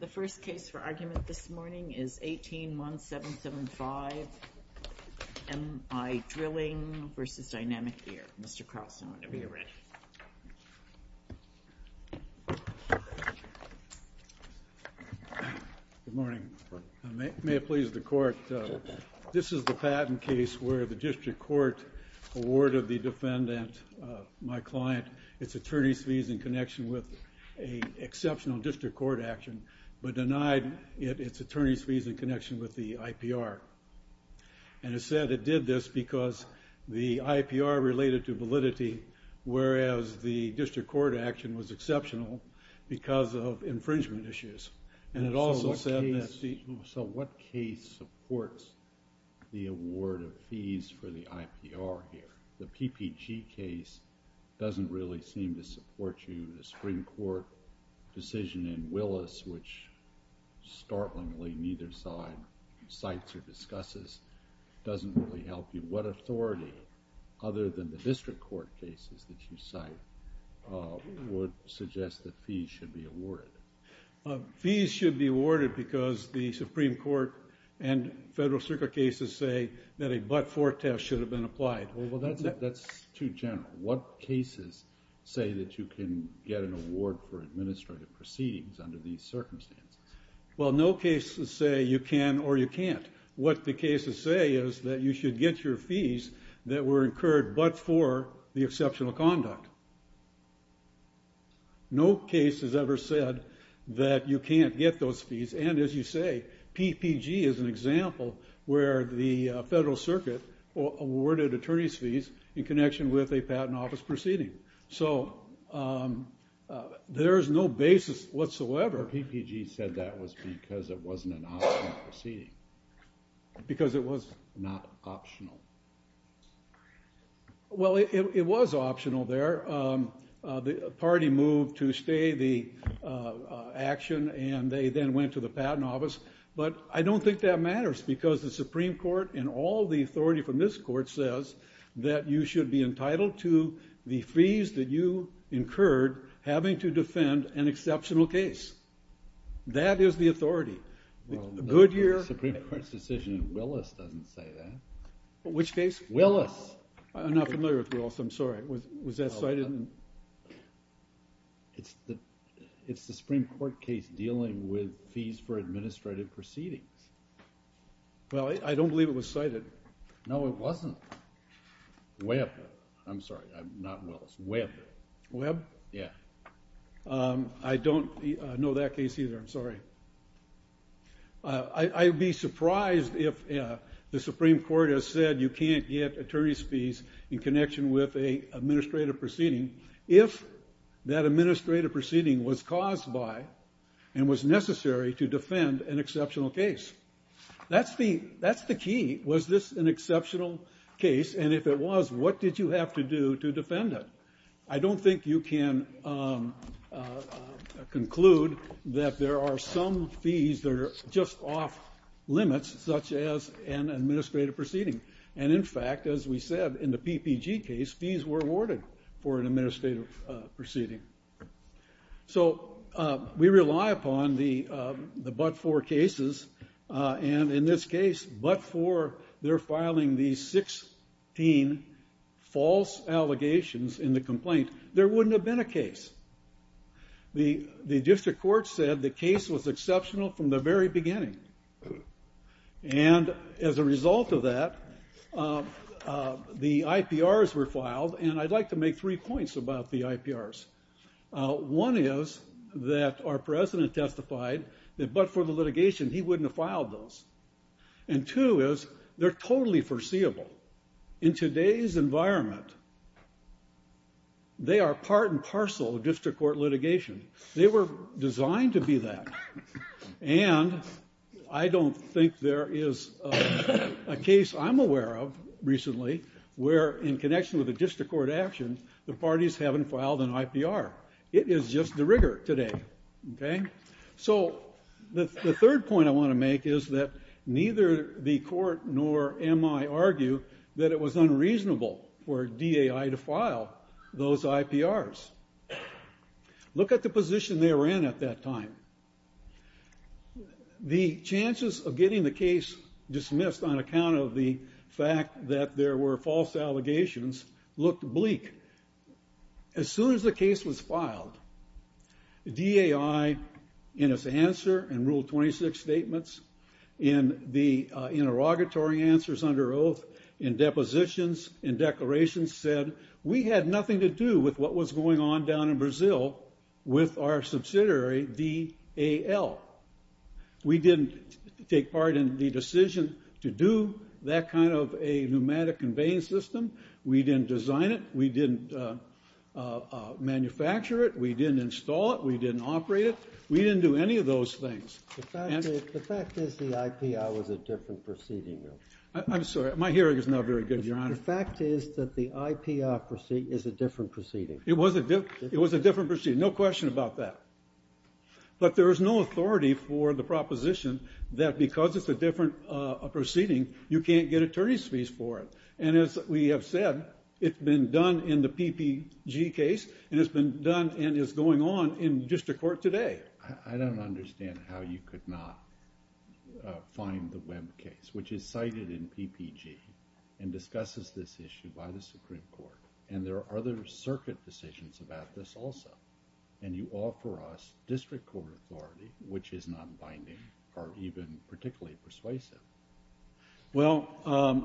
The first case for argument this morning is 18-1775, M-I Drilling v. Dynamic Air. Mr. Carlson, whenever you're ready. Good morning. May it please the Court, this is the patent case where the District Court awarded the defendant, my client, its attorney's fees in connection with the IPR. And it said it did this because the IPR related to validity, whereas the District Court action was exceptional because of infringement issues. And it also said that... So what case supports the award of fees for the IPR here? The PPG case doesn't really seem to support you. The decision in Willis, which startlingly neither side cites or discusses, doesn't really help you. What authority, other than the District Court cases that you cite, would suggest that fees should be awarded? Fees should be awarded because the Supreme Court and federal circuit cases say that a but-for test should have been applied. Well, that's too general. What cases say that you can get an award for administrative proceedings under these circumstances? Well, no cases say you can or you can't. What the cases say is that you should get your fees that were incurred but for the exceptional conduct. No case has ever said that you can't get those fees. And as you say, PPG is an example where the federal circuit awarded attorney's fees in connection with a patent office proceeding. So there's no basis whatsoever. PPG said that was because it wasn't an optional proceeding. Because it was not optional. Well, it was optional there. The party moved to stay the action and they then went to the patent office. But I don't think that matters because the Supreme Court and all the authority from this court says that you should be entitled to the fees that you incurred having to defend an exceptional case. That is the authority. The Supreme Court's decision in Willis doesn't say that. Which case? Willis. I'm not familiar with Willis, I'm sorry. Was that cited? It's the Supreme Court case dealing with fees for administrative proceedings. Well, I don't believe it was Webb. I'm sorry, not Willis, Webb. Webb? Yeah. I don't know that case either, I'm sorry. I'd be surprised if the Supreme Court has said you can't get attorney's fees in connection with an administrative proceeding if that administrative proceeding was caused by and was necessary to defend an exceptional case. And if it was, what did you have to do to defend it? I don't think you can conclude that there are some fees that are just off limits, such as an administrative proceeding. And in fact, as we said in the PPG case, fees were awarded for an administrative proceeding. So we rely upon the but-for cases. And in this case, but-for, they're filing these 16 false allegations in the complaint. There wouldn't have been a case. The district court said the case was exceptional from the very beginning. And as a result of that, the IPRs were filed. And I'd like to make three points about the IPRs. One is that our president testified that but-for the litigation, he wouldn't have filed those. And two is, they're totally foreseeable. In today's environment, they are part and parcel of district court litigation. They were designed to be that. And I don't think there is a case I'm aware of recently where, in connection with a district court action, the parties haven't filed an IPR. It is just the case. So the third point I want to make is that neither the court nor MI argue that it was unreasonable for DAI to file those IPRs. Look at the position they were in at that time. The chances of getting the case dismissed on account of the fact that there were false allegations looked bleak. As soon as the DAI, in its answer and Rule 26 statements, in the interrogatory answers under oath, in depositions, in declarations, said, we had nothing to do with what was going on down in Brazil with our subsidiary, DAL. We didn't take part in the decision to do that kind of a pneumatic conveying system. We didn't design it. We didn't manufacture it. We didn't install it. We didn't operate it. We didn't do any of those things. The fact is the IPR was a different proceeding. I'm sorry, my hearing is not very good, Your Honor. The fact is that the IPR is a different proceeding. It was a different proceeding. No question about that. But there is no authority for the proposition that because it's a different proceeding, you can't get attorney's fees for it. And as we have said, it's been done in the PPG case and it's been done and is going on in district court today. I don't understand how you could not find the web case, which is cited in PPG and discusses this issue by the Supreme Court. And there are other circuit decisions about this also. And you offer us district court authority, which is non-binding or even particularly persuasive. Well,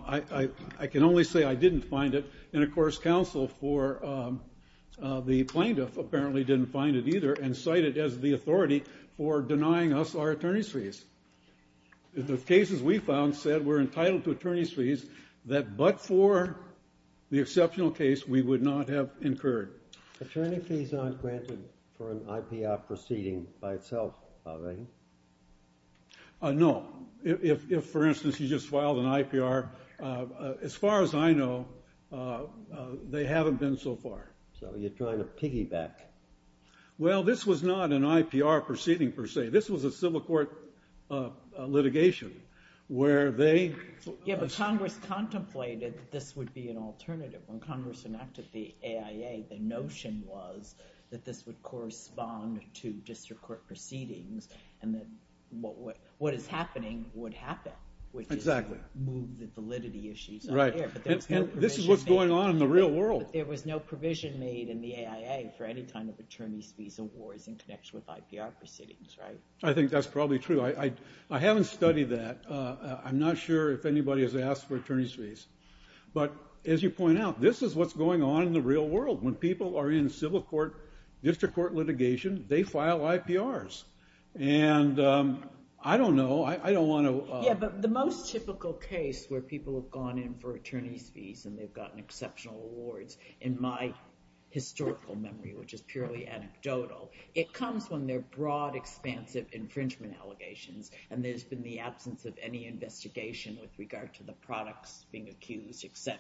I can only say I didn't find it. And, of course, counsel for the plaintiff apparently didn't find it either and cite it as the authority for denying us our attorney's fees. The cases we found said we're entitled to attorney's fees that but for the exceptional case we would not have incurred. Attorney fees aren't granted for an IPR proceeding by itself, are they? No. If, for instance, you just filed an IPR, as far as I know, they haven't been so far. So you're trying to piggyback. Well, this was not an IPR proceeding per se. This was a civil court litigation where they... Yeah, but Congress contemplated this would be an alternative. When Congress enacted the AIA, the notion was that this would correspond to district court proceedings and that what is happening would happen. Exactly. And this is what's going on in the real world. There was no provision made in the AIA for any kind of attorney's fees awards in connection with IPR proceedings, right? I think that's probably true. I haven't studied that. I'm not sure if anybody has asked for attorney's fees. But, as you point out, this is what's going on in the real world. When people are in civil court, district court litigation, they have gone in for attorney's fees and they've gotten exceptional awards. In my historical memory, which is purely anecdotal, it comes when they're broad, expansive infringement allegations and there's been the absence of any investigation with regard to the products being accused, etc.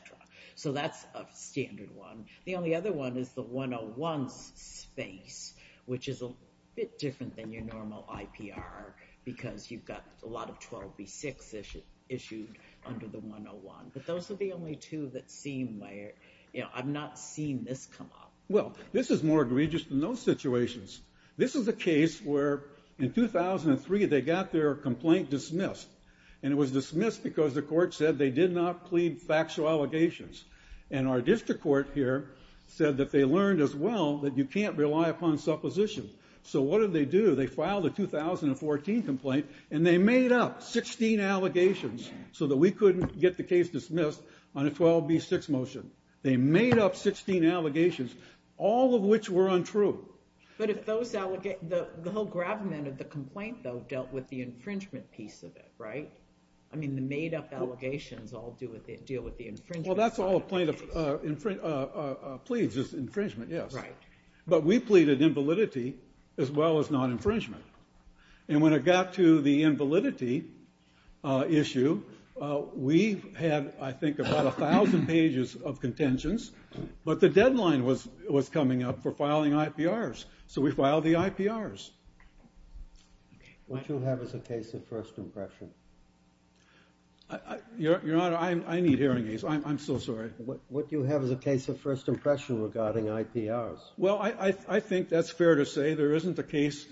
So that's a standard one. The only other one is the 101 space, which is a bit different than your normal IPR because you've got a lot of 12B6 issued under the 101. But those are the only two that seem like, you know, I've not seen this come up. Well, this is more egregious than those situations. This is a case where, in 2003, they got their complaint dismissed. And it was dismissed because the court said they did not plead factual allegations. And our district court here said that they learned as well that you can't rely upon supposition. So what did they do? They filed a 2014 complaint and they made up 16 allegations so that we couldn't get the case dismissed on a 12B6 motion. They made up 16 allegations, all of which were untrue. But if those allegations, the whole gravamen of the complaint, though, dealt with the infringement piece of it, right? I mean, the made-up allegations all deal with the infringement. Well, that's all a plaintiff pleads, is infringement, yes. But we didn't file the infringement. And when it got to the invalidity issue, we had, I think, about 1,000 pages of contentions. But the deadline was coming up for filing IPRs. So we filed the IPRs. What do you have as a case of first impression? Your Honor, I need hearing aids. I'm so sorry. What do you have as a case of first impression regarding IPRs? Well, I think that's fair to say. There isn't a case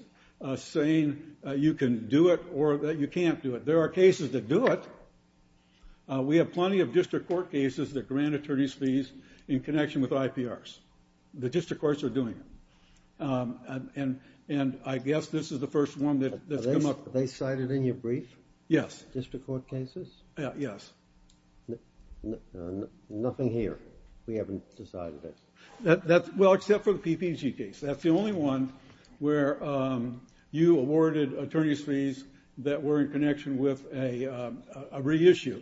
saying you can do it or that you can't do it. There are cases that do it. We have plenty of district court cases that grant attorneys fees in connection with IPRs. The district courts are doing it. And I guess this is the first one that's come up. Are they cited in your brief? Yes. District court cases? Yes. Nothing here. We haven't decided it. Well, except for the PPG case. That's the only one where you awarded attorneys fees that were in connection with a reissue.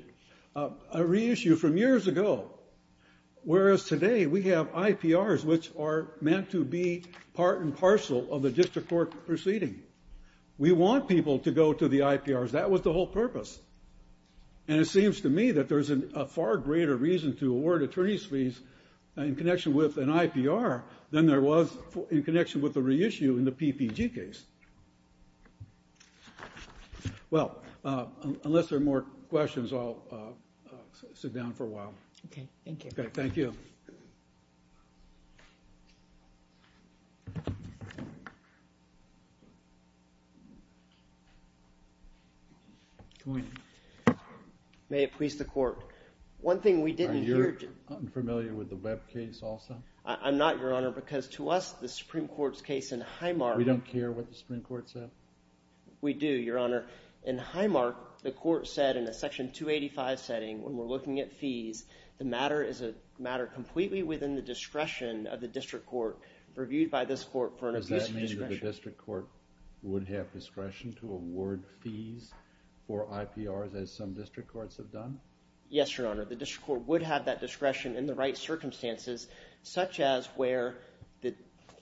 A reissue from years ago. Whereas today, we have IPRs, which are meant to be part and parcel of the district court proceeding. We want people to go to the IPRs. That was the whole purpose. And it seems to me that there's a far greater reason to award attorneys fees in connection with an IPR than there was in connection with a reissue in the PPG case. Well, unless there are more questions, I'll sit down for a while. OK. Thank you. Thank you. Good morning. May it please the court. One thing we didn't hear. Are you unfamiliar with the Webb case also? I'm not, Your Honor, because to us, the Supreme Court's case in Highmark. We don't care what the Supreme Court said? We do, Your Honor. In Highmark, the court said in a section 285 setting, when we're looking at fees, the matter is a matter completely within the discretion of the district court, reviewed by this court for an appropriate discretion. Does that mean that the district court would have discretion to award fees for IPRs, as some district courts have done? Yes, Your Honor. The district court would have that discretion in the right circumstances, such as where the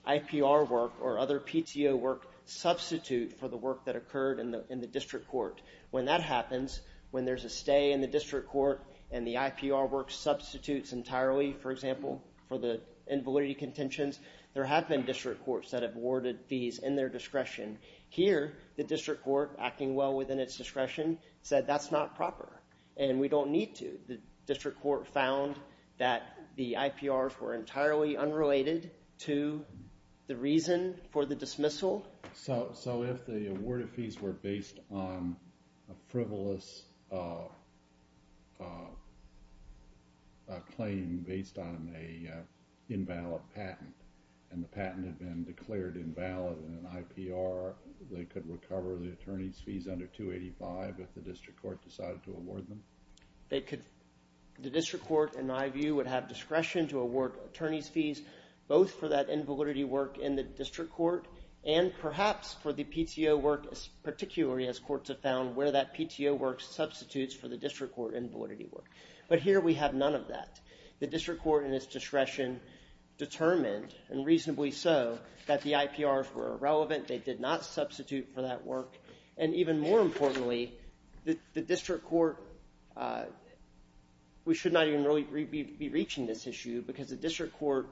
IPR work or other PTO work substitute for the work that occurred in the district court. When that happens, when there's a stay in the district court, and the IPR work substitutes entirely, for example, for the invalidity contentions, there have been district courts that have awarded fees in their discretion. Here, the district court, acting well within its discretion, said that's not proper, and we don't need to. The district court found that the IPRs were entirely unrelated to the reason for the dismissal. So if the awarded fees were based on a frivolous claim based on an invalid patent, and the patent had been declared invalid in an IPR, they could recover the attorney's fees under 285 if the district court decided to award them? The district court, in my view, would have discretion to award attorney's work in the district court, and perhaps for the PTO work, particularly as courts have found where that PTO work substitutes for the district court invalidity work. But here we have none of that. The district court in its discretion determined, and reasonably so, that the IPRs were irrelevant, they did not substitute for that work, and even more importantly, the district court, we should not even really be reaching this issue because the district court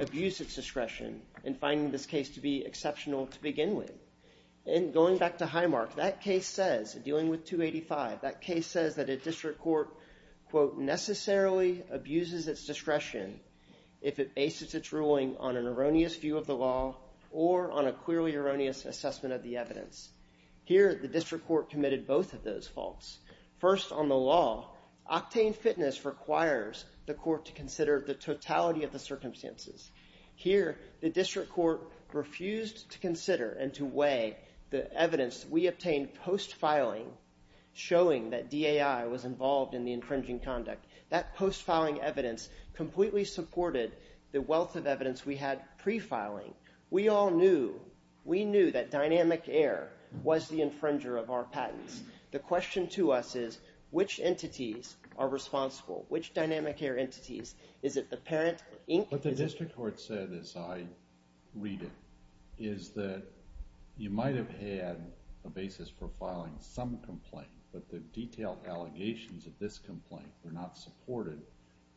abused its discretion in finding this case to be exceptional to begin with. And going back to Highmark, that case says, dealing with 285, that case says that a district court, quote, necessarily abuses its discretion if it bases its ruling on an erroneous view of the law or on a clearly erroneous assessment of the evidence. Here, the district court committed both of those faults. First, on the law, octane fitness requires the court to consider the totality of the circumstances. Here, the district court refused to consider and to weigh the evidence we obtained post-filing, showing that DAI was involved in the infringing conduct. That post-filing evidence completely supported the wealth of evidence we had pre-filing. We all knew, we knew that Dynamic Air was the infringer of our patents. The question to us is, which entities are responsible? Which Dynamic Air entities? Is it the parent, or Inc.? What the district court said, as I read it, is that you might have had a basis for filing some complaint, but the detailed allegations of this complaint were not supported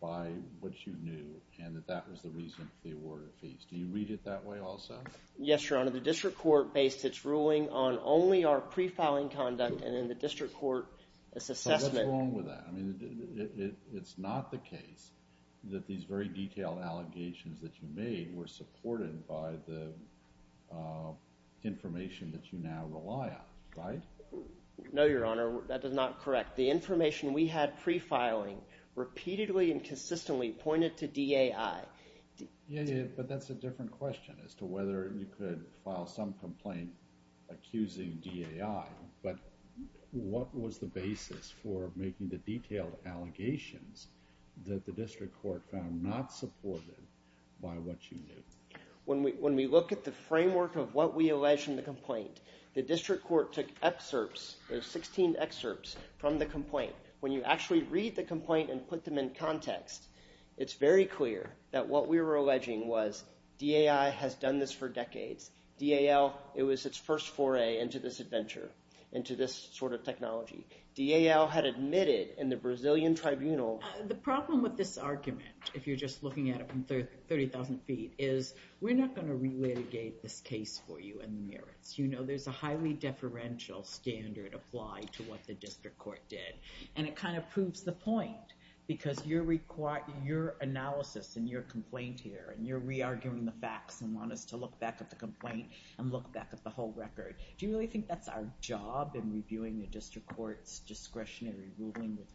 by what you knew, and that that was the reason for the award of fees. Do you read it that way also? Yes, Your Honor. The district court based its ruling on only our pre-filing conduct, and in the district court's assessment. So what's wrong with that? It's not the case that these very detailed allegations that you made were supported by the information that you now rely on, right? No, Your Honor, that is not correct. The information we had pre-filing repeatedly and consistently pointed to DAI. But that's a different question as to whether you could file some complaint accusing DAI. But what was the basis for making the detailed allegations that the district court found not supported by what you knew? When we look at the framework of what we allege in the complaint, the district court took excerpts, there's 16 excerpts from the complaint. When you actually read the complaint and put them in context, it's very clear that what we were alleging was DAI has done this for decades. DAL, it was its first foray into this adventure, into this sort of technology. DAL had admitted in the Brazilian tribunal. The problem with this argument, if you're just looking at it from 30,000 feet, is we're not going to re-litigate this case for you in the merits. You know, there's a highly deferential standard applied to what the district court did. And it kind of proves the point, because your analysis and your complaint here, and you're re-arguing the facts and want us to look back at the complaint and look back at the whole record. Do you really think that's our job in reviewing the district court's discretionary ruling with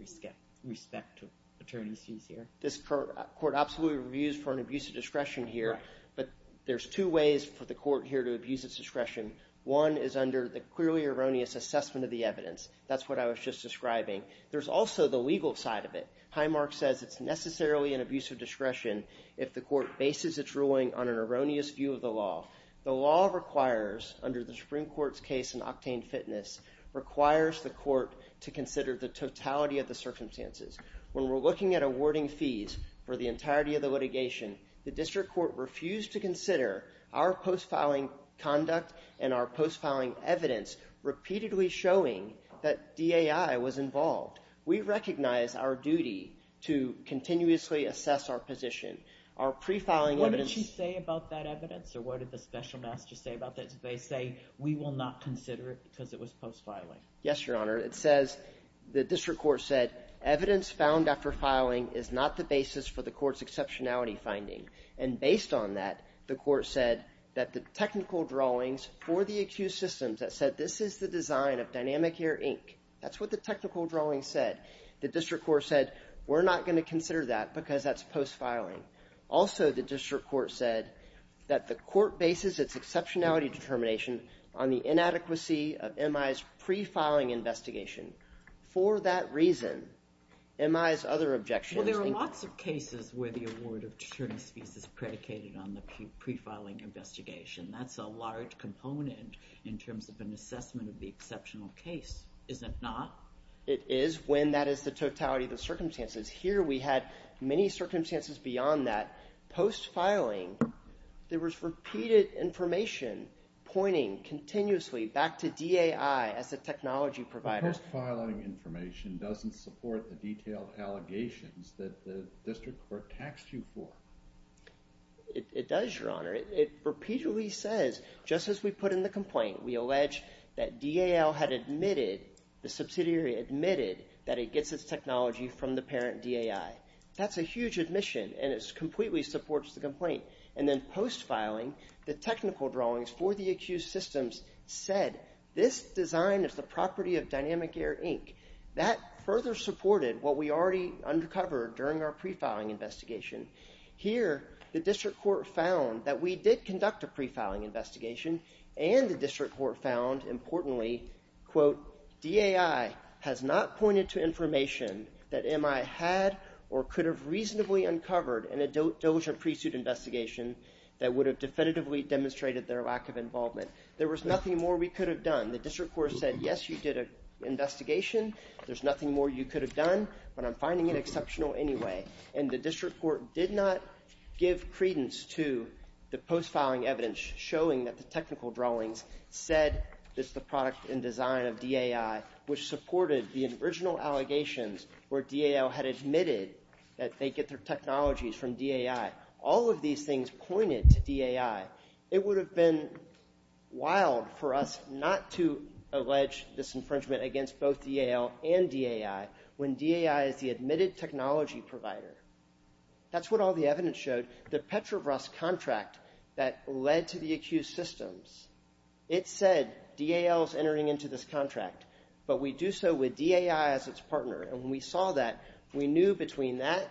respect to attorneys used here? This court absolutely reviews for an abuse of discretion here, but there's two ways for the court here to abuse its discretion. One is under the clearly erroneous assessment of the evidence. That's what I was just describing. There's also the legal side of it. Highmark says it's necessarily an abuse of discretion if the court bases its ruling on an erroneous view of the law. The law requires, under the Supreme Court's case in Octane Fitness, requires the court to consider the totality of the circumstances. When we're looking at awarding fees for the entirety of the litigation, the district court refused to consider our post-filing conduct and our post-filing evidence repeatedly showing that DAI was involved. We recognize our duty to continuously assess our position. Our pre-filing evidence- What did she say about that evidence? Or what did the special master say about that? Did they say, we will not consider it because it was post-filing? Yes, Your Honor. It says the district court said, evidence found after filing is not the basis for the court's exceptionality finding. And based on that, the court said that the technical drawings for the accused systems that said, this is the design of Dynamic Air Inc. That's what the technical drawings said. The district court said, we're not going to consider that because that's post-filing. Also, the district court said that the court bases its exceptionality determination on the inadequacy of MI's pre-filing investigation. For that reason, MI's other objections- Well, there are lots of cases where the award of attorneys fees is predicated on the pre-filing investigation. That's a large component in terms of an assessment of the exceptional case Is it not? It is, when that is the totality of the circumstances. Here, we had many circumstances beyond that. Post-filing, there was repeated information pointing continuously back to DAI as a technology provider. Post-filing information doesn't support the detailed allegations that the district court taxed you for. It does, Your Honor. It repeatedly says, just as we put in the complaint, we allege that DAL had admitted, the subsidiary admitted, that it gets its technology from the parent DAI. That's a huge admission, and it completely supports the complaint. And then post-filing, the technical drawings for the accused systems said, this design is the property of Dynamic Air, Inc. That further supported what we already uncovered during our pre-filing investigation. Here, the district court found that we did conduct a pre-filing investigation, and the district court found, importantly, quote, DAI has not pointed to information that MI had or could have reasonably uncovered in a diligent pre-suit investigation that would have definitively demonstrated their lack of involvement. There was nothing more we could have done. The district court said, yes, you did an investigation. There's nothing more you could have done, but I'm finding it exceptional anyway. And the district court did not give credence to the post-filing evidence showing that the technical drawings said it's the product and design of DAI, which supported the original allegations where DAL had admitted that they get their technologies from DAI. All of these things pointed to DAI. It would have been wild for us not to allege this infringement against both DAL and DAI when DAI is the admitted technology provider. That's what all the evidence showed. The Petrobras contract that led to the accused systems, it said DAL is entering into this contract, but we do so with DAI as its partner. And we saw that. We knew between that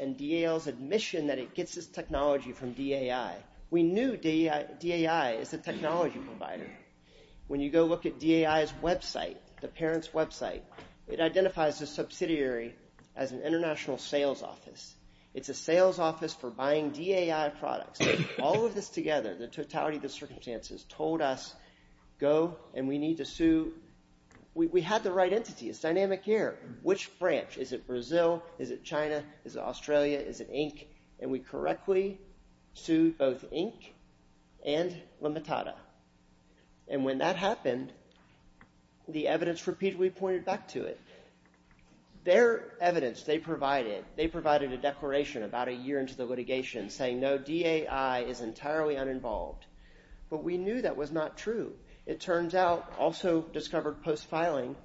and DAL's admission that it gets its technology from DAI. We knew DAI is a technology provider. When you go look at DAI's website, the parent's website, it identifies the subsidiary as an international sales office. It's a sales office for buying DAI products. All of this together, the totality of the circumstances, told us go, and we need to sue. We had the right entity. It's dynamic here. Which branch? Is it Brazil? Is it China? Is it Australia? Is it Inc? And we correctly sued both Inc and Limitada. And when that happened, the evidence repeatedly pointed back to it. Their evidence they provided, they had a declaration about a year into the litigation saying, no, DAI is entirely uninvolved. But we knew that was not true. It turns out, also discovered post-filing,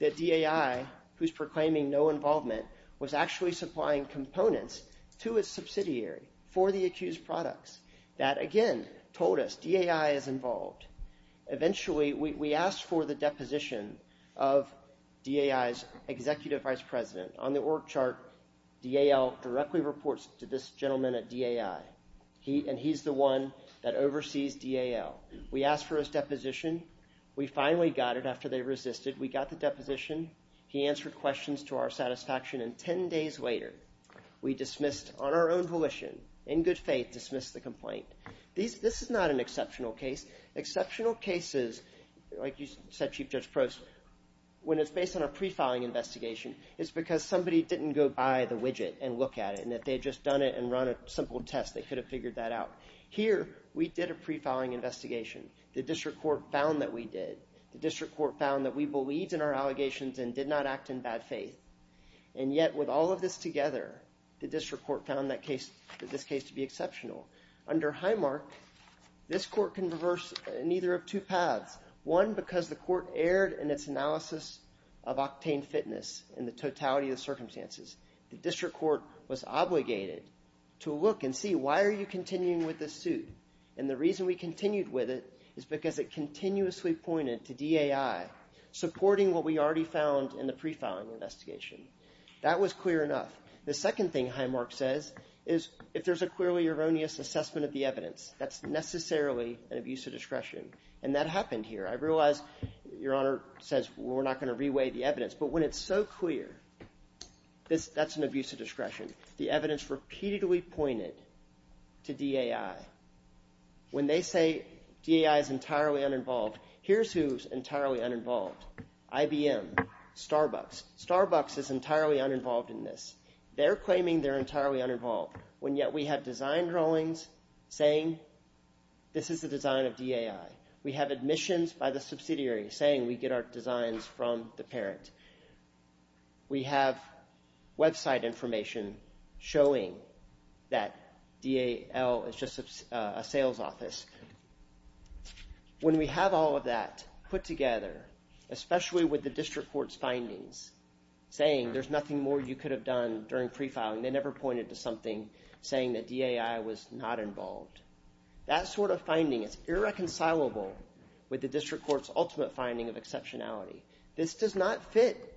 that DAI, who's proclaiming no involvement, was actually supplying components to its subsidiary for the accused products. That, again, told us DAI is involved. Eventually, we asked for the deposition of DAI's executive vice president On the org chart, DAL directly reports to this gentleman at DAI. And he's the one that oversees DAL. We asked for his deposition. We finally got it after they resisted. We got the deposition. He answered questions to our satisfaction. And 10 days later, we dismissed, on our own volition, in good faith, dismissed the complaint. This is not an exceptional case. Exceptional cases, like you said, Chief Judge Prost, when it's based on a pre-filing investigation, it's because somebody didn't go by the widget and look at it. And if they had just done it and run a simple test, they could have figured that out. Here, we did a pre-filing investigation. The district court found that we did. The district court found that we believed in our allegations and did not act in bad faith. And yet, with all of this together, the district court found this case to be exceptional. Under Highmark, this court can reverse neither of two paths. One, because the court erred in its analysis of octane fitness and the totality of the circumstances. The district court was obligated to look and see, why are you continuing with this suit? And the reason we continued with it is because it continuously pointed to DAI supporting what we already found in the pre-filing investigation. That was clear enough. The second thing Highmark says is, if there's a clearly erroneous assessment of the evidence, that's necessarily an abuse of discretion. I realize, Your Honor says, we're not going to re-weigh the evidence. But when it's so clear, that's an abuse of discretion. The evidence repeatedly pointed to DAI. When they say, DAI is entirely uninvolved, here's who's entirely uninvolved. IBM, Starbucks. Starbucks is entirely uninvolved in this. They're claiming they're entirely uninvolved, when yet we have design drawings saying, this is the design of DAI. We have admissions by the subsidiary saying, we get our designs from the parent. We have website information showing that DAL is just a sales office. When we have all of that put together, especially with the district court's findings, saying there's nothing more you could have done during pre-filing, they never pointed to something saying that DAI was not involved. That sort of finding is irreconcilable with the district court's ultimate finding of exceptionality. This does not fit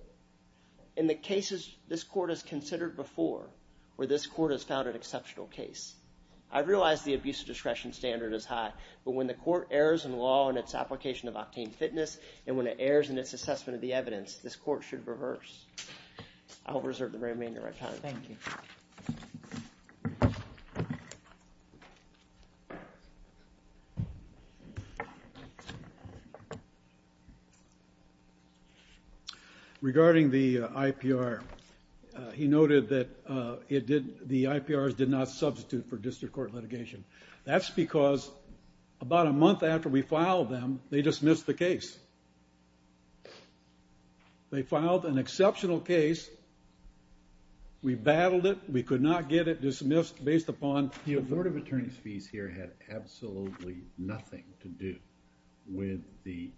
in the cases this court has considered before, where this court has found an exceptional case. I realize the abuse of discretion standard is high, but when the court errs in law in its application of octane fitness, and when it errs in its assessment of the evidence, this court should reverse. I'll reserve the remainder of my time. Thank you. Thank you. Regarding the IPR, he noted that the IPRs did not substitute for district court litigation. That's because about a month after we filed them, they dismissed the case. They filed an exceptional case, we battled it, we could not get it dismissed based upon. The authoritative attorney's fees here had absolutely nothing to do with the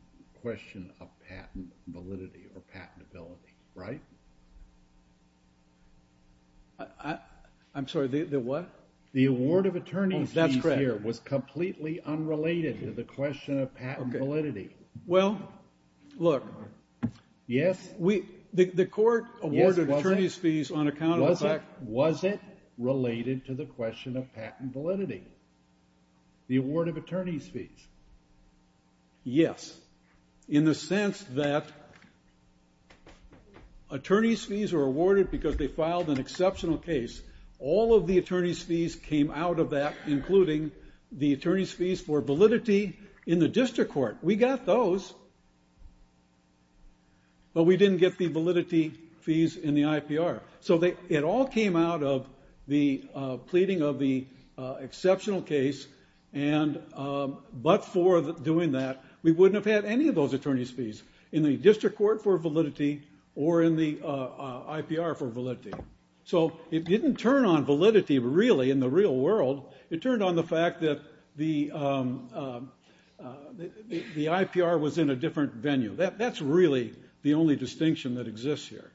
question of patent validity or patentability, right? I'm sorry, the what? The award of attorney's fees here was completely unrelated to the question of patent validity. Well, look. Yes? The court awarded attorney's fees on account of the fact. Was it related to the question of patent validity? The award of attorney's fees. Yes. In the sense that attorney's fees are awarded because they filed an exceptional case. All of the attorney's fees came out of that, including the attorney's fees for validity in the district court. We got those, but we didn't get the validity fees in the IPR. So it all came out of the pleading of the exceptional case and but for doing that, we wouldn't have had any of those attorney's fees in the district court for validity or in the IPR for validity. So it didn't turn on validity really in the real world. It turned on the fact that the IPR was in a different venue. That's really the only distinction that exists here.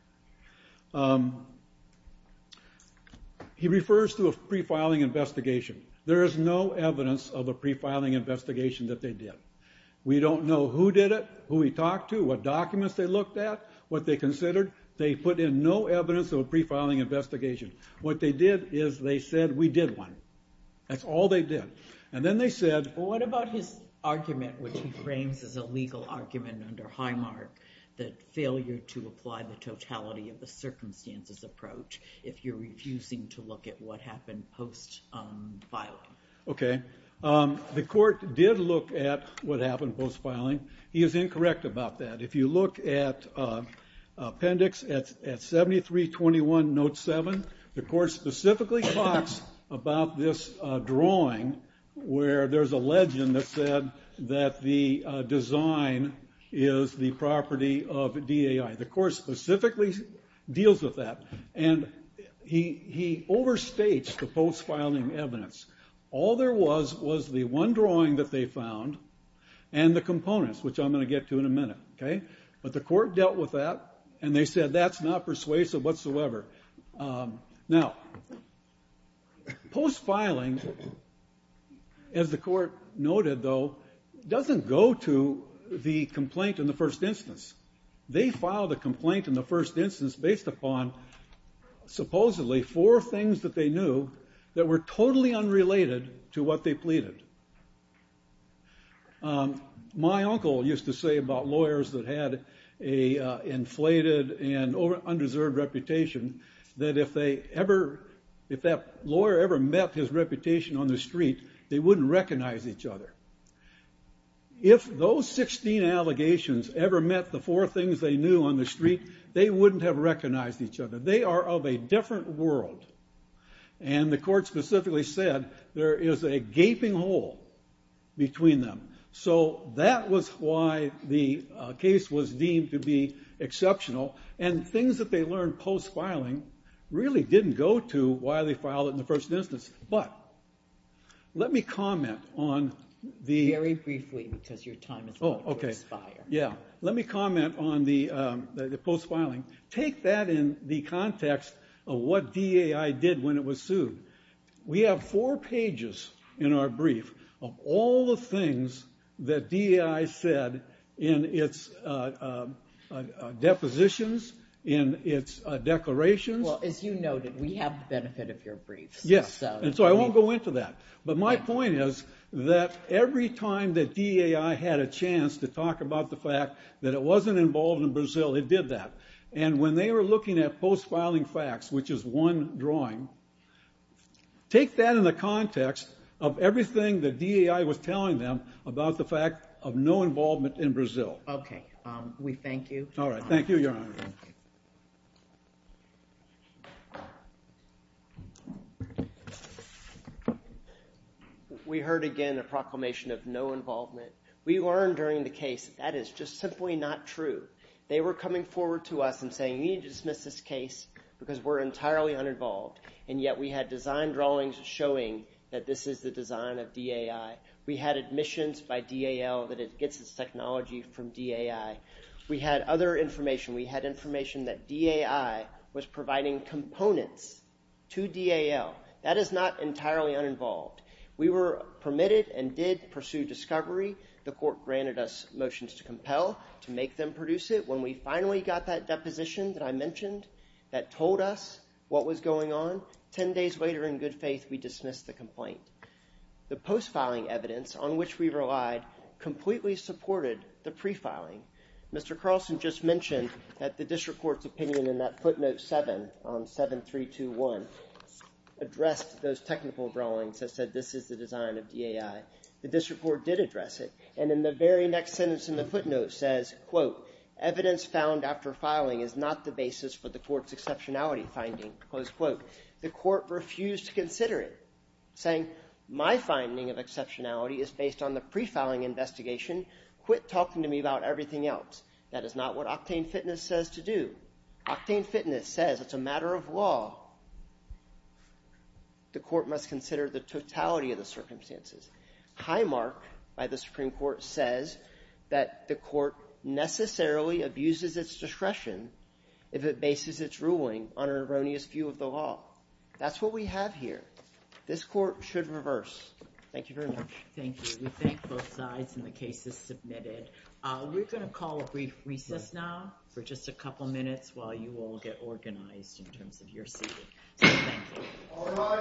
He refers to a pre-filing investigation. There is no evidence of a pre-filing investigation that they did. We don't know who did it, who he talked to, what documents they looked at, what they considered. They put in no evidence of a pre-filing investigation. What they did is they said, we did one. That's all they did. And then they said. Well, what about his argument, which he frames as a legal argument under Highmark, that failure to apply the totality of the circumstances approach, if you're refusing to look at what happened post-filing? Okay. The court did look at what happened post-filing. He is incorrect about that. If you look at appendix at 7321 note seven, the court specifically talks about this drawing where there's a legend that said that the design is the property of DAI. The court specifically deals with that. And he overstates the post-filing evidence. All there was was the one drawing that they found and the components, which I'm gonna get to in a minute. But the court dealt with that and they said that's not persuasive whatsoever. Now, post-filing, as the court noted though, doesn't go to the complaint in the first instance. They filed a complaint in the first instance based upon supposedly four things that they knew that were totally unrelated to what they pleaded. My uncle used to say about lawyers that had an inflated and undeserved reputation that if that lawyer ever met his reputation on the street, they wouldn't recognize each other. If those 16 allegations ever met the four things they knew on the street, they wouldn't have recognized each other. They are of a different world. And the court specifically said there is a gaping hole between them. So that was why the case was deemed to be exceptional. And things that they learned post-filing really didn't go to why they filed it in the first instance. But let me comment on the- Very briefly, because your time has expired. Yeah, let me comment on the post-filing. Take that in the context of what DAI did when it was sued. We have four pages in our brief of all the things that DAI said in its depositions, in its declarations. Well, as you noted, we have the benefit of your briefs. Yes, and so I won't go into that. But my point is that every time that DAI had a chance to talk about the fact that it wasn't involved in Brazil, it did that. And when they were looking at post-filing facts, which is one drawing, take that in the context of everything that DAI was telling them about the fact of no involvement in Brazil. Okay, we thank you. All right, thank you, Your Honor. We heard again a proclamation of no involvement. We learned during the case that is just simply not true. They were coming forward to us and saying, we need to dismiss this case because we're entirely uninvolved. And yet we had design drawings showing that this is the design of DAI. We had admissions by DAL that it gets its technology from DAI. We had other information. We had information that DAI was providing components to DAL. That is not entirely uninvolved. We were permitted and did pursue discovery. The court granted us motions to compel to make them produce it. When we finally got that deposition that I mentioned that told us what was going on, 10 days later, in good faith, we dismissed the complaint. The post-filing evidence on which we relied completely supported the pre-filing. Mr. Carlson just mentioned that the district court's opinion in that footnote seven on 7321 addressed those technical drawings that said this is the design of DAI. The district court did address it. And in the very next sentence in the footnote says, quote, evidence found after filing is not the basis for the court's exceptionality finding, close quote. The court refused to consider it, saying my finding of exceptionality is based on the pre-filing investigation. Quit talking to me about everything else. That is not what Octane Fitness says to do. Octane Fitness says it's a matter of law. The court must consider the totality of the circumstances. Highmark by the Supreme Court says that the court necessarily abuses its discretion if it bases its ruling on an erroneous view of the law. That's what we have here. This court should reverse. Thank you very much. Thank you. We thank both sides and the cases submitted. We're gonna call a brief recess now for just a couple minutes while you all get organized in terms of your seating. So thank you. All rise.